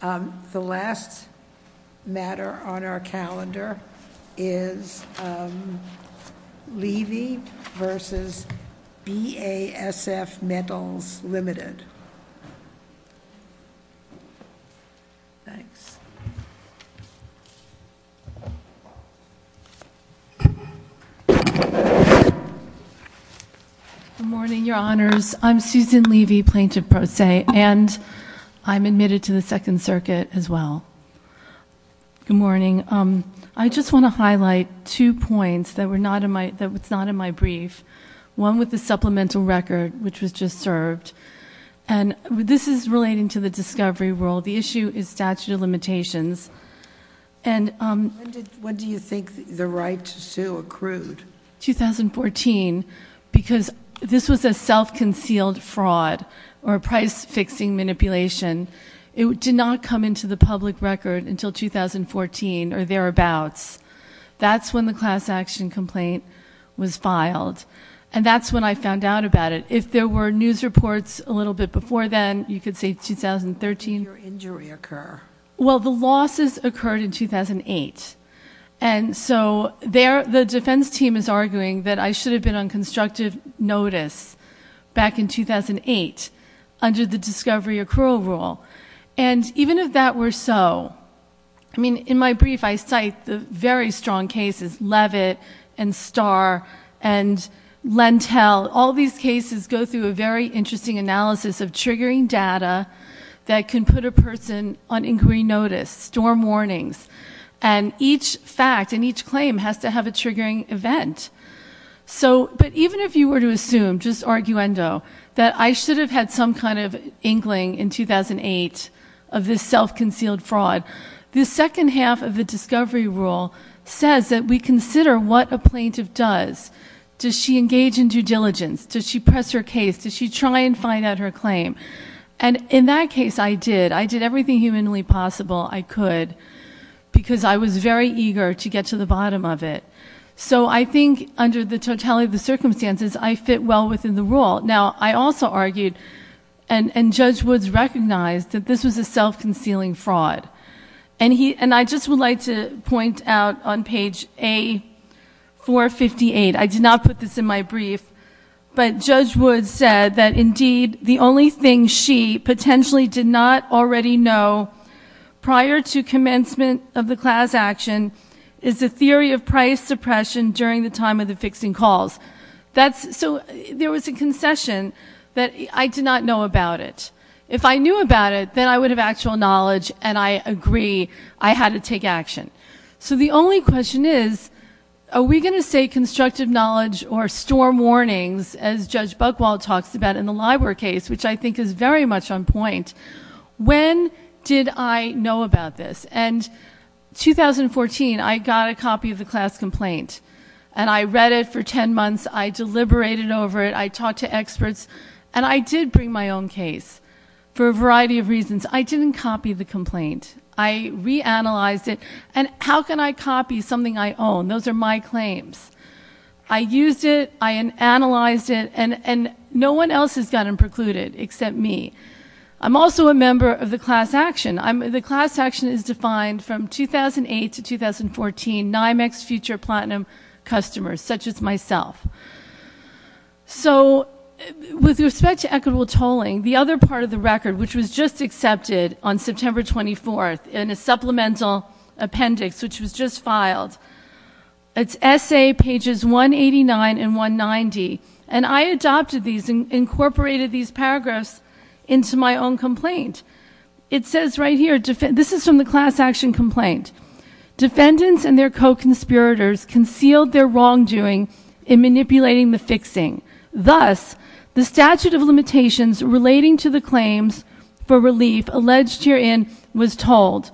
The last matter on our calendar is Levy v. Basf Metals Ltd. Good morning, Your Honors. I'm Susan Levy, Plaintiff Pro Se, and I'm admitted to the Second Circuit as well. Good morning. I just want to highlight two points that were not in my brief, one with the supplemental record, which was just served, and this is relating to the discovery rule. The issue is statute of limitations. When do you think the right to sue accrued? 2014, because this was a self-concealed fraud or a price-fixing manipulation. It did not come into the public record until 2014 or thereabouts. That's when the class action complaint was filed, and that's when I found out about it. If there were news reports a little bit before then, you could say 2013. How did your injury occur? Well, the losses occurred in 2008, and so the defense team is arguing that I should have been on constructive notice back in 2008 under the discovery accrual rule, and even if that were so... I mean, in my brief, I cite the very strong cases, Levitt and Starr and Lentell. All these cases go through a very interesting analysis of triggering data that can put a person on inquiry notice, storm warnings, and each fact and each claim has to have a triggering event. But even if you were to assume, just arguendo, that I should have had some kind of inkling in 2008 of this self-concealed fraud, the second half of the discovery rule says that we consider what a plaintiff does. Does she engage in due diligence? Does she press her case? Does she try and find out her claim? And in that case, I did. I did everything humanly possible I could because I was very eager to get to the bottom of it. So I think under the totality of the circumstances, I fit well within the rule. Now, I also argued, and Judge Woods recognized, that this was a self-concealing fraud. And I just would like to point out on page A458... I did not put this in my brief, but Judge Woods said that indeed the only thing she potentially did not already know prior to commencement of the class action is the theory of price suppression during the time of the fixing calls. So there was a concession that I did not know about it. If I knew about it, then I would have actual knowledge, and I agree I had to take action. So the only question is, are we going to say constructive knowledge or storm warnings as Judge Buchwald talks about in the Libor case, which I think is very much on point. When did I know about this? And 2014, I got a copy of the class complaint. And I read it for ten months. I deliberated over it. I talked to experts. And I did bring my own case for a variety of reasons. I didn't copy the complaint. I reanalyzed it. And how can I copy something I own? Those are my claims. I used it. I analyzed it. And no one else has gotten precluded except me. I'm also a member of the class action. The class action is defined from 2008 to 2014, NYMEX future platinum customers, such as myself. So with respect to equitable tolling, the other part of the record, which was just accepted on September 24th in a supplemental appendix, which was just filed, it's essay pages 189 and 190. And I adopted these and incorporated these paragraphs into my own complaint. It says right here, this is from the class action complaint. Defendants and their co-conspirators concealed their wrongdoing in manipulating the fixing. Thus, the statute of limitations relating to the claims for relief alleged herein was told.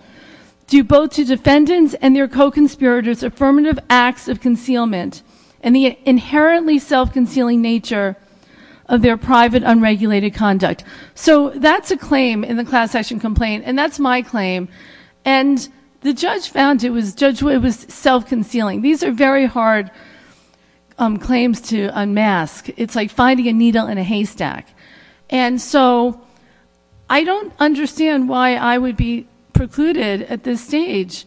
Due both to defendants and their co-conspirators' affirmative acts of concealment and the inherently self-concealing nature of their private unregulated conduct. So that's a claim in the class action complaint. And that's my claim. And the judge found it was self-concealing. These are very hard claims to unmask. It's like finding a needle in a haystack. And so I don't understand why I would be precluded at this stage.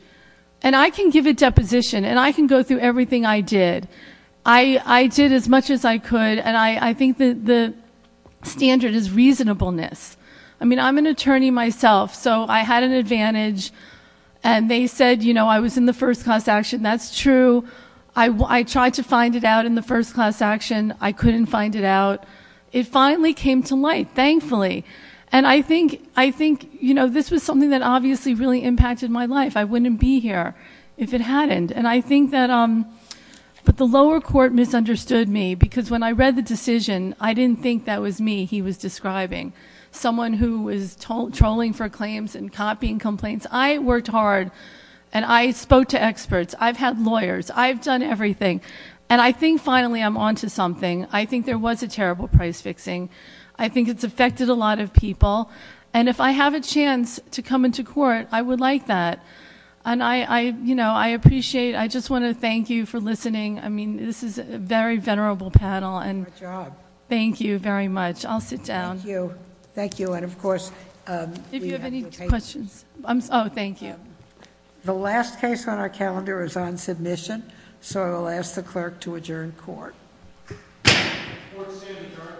And I can give a deposition, and I can go through everything I did. I did as much as I could, and I think the standard is reasonableness. I mean, I'm an attorney myself, so I had an advantage. And they said, you know, I was in the first class action. That's true. I tried to find it out in the first class action. I couldn't find it out. It finally came to light, thankfully. And I think, you know, this was something that obviously really impacted my life. I wouldn't be here if it hadn't. And I think that the lower court misunderstood me because when I read the decision, I didn't think that was me he was describing. Someone who is trolling for claims and copying complaints. I worked hard, and I spoke to experts. I've had lawyers. I've done everything. And I think finally I'm on to something. I think there was a terrible price fixing. I think it's affected a lot of people. And if I have a chance to come into court, I would like that. And, you know, I appreciate... I just want to thank you for listening. I mean, this is a very venerable panel. Thank you very much. I'll sit down. Thank you. And, of course... If you have any questions... Oh, thank you. The last case on our calendar is on submission, so I'll ask the clerk to adjourn court. Court is adjourned.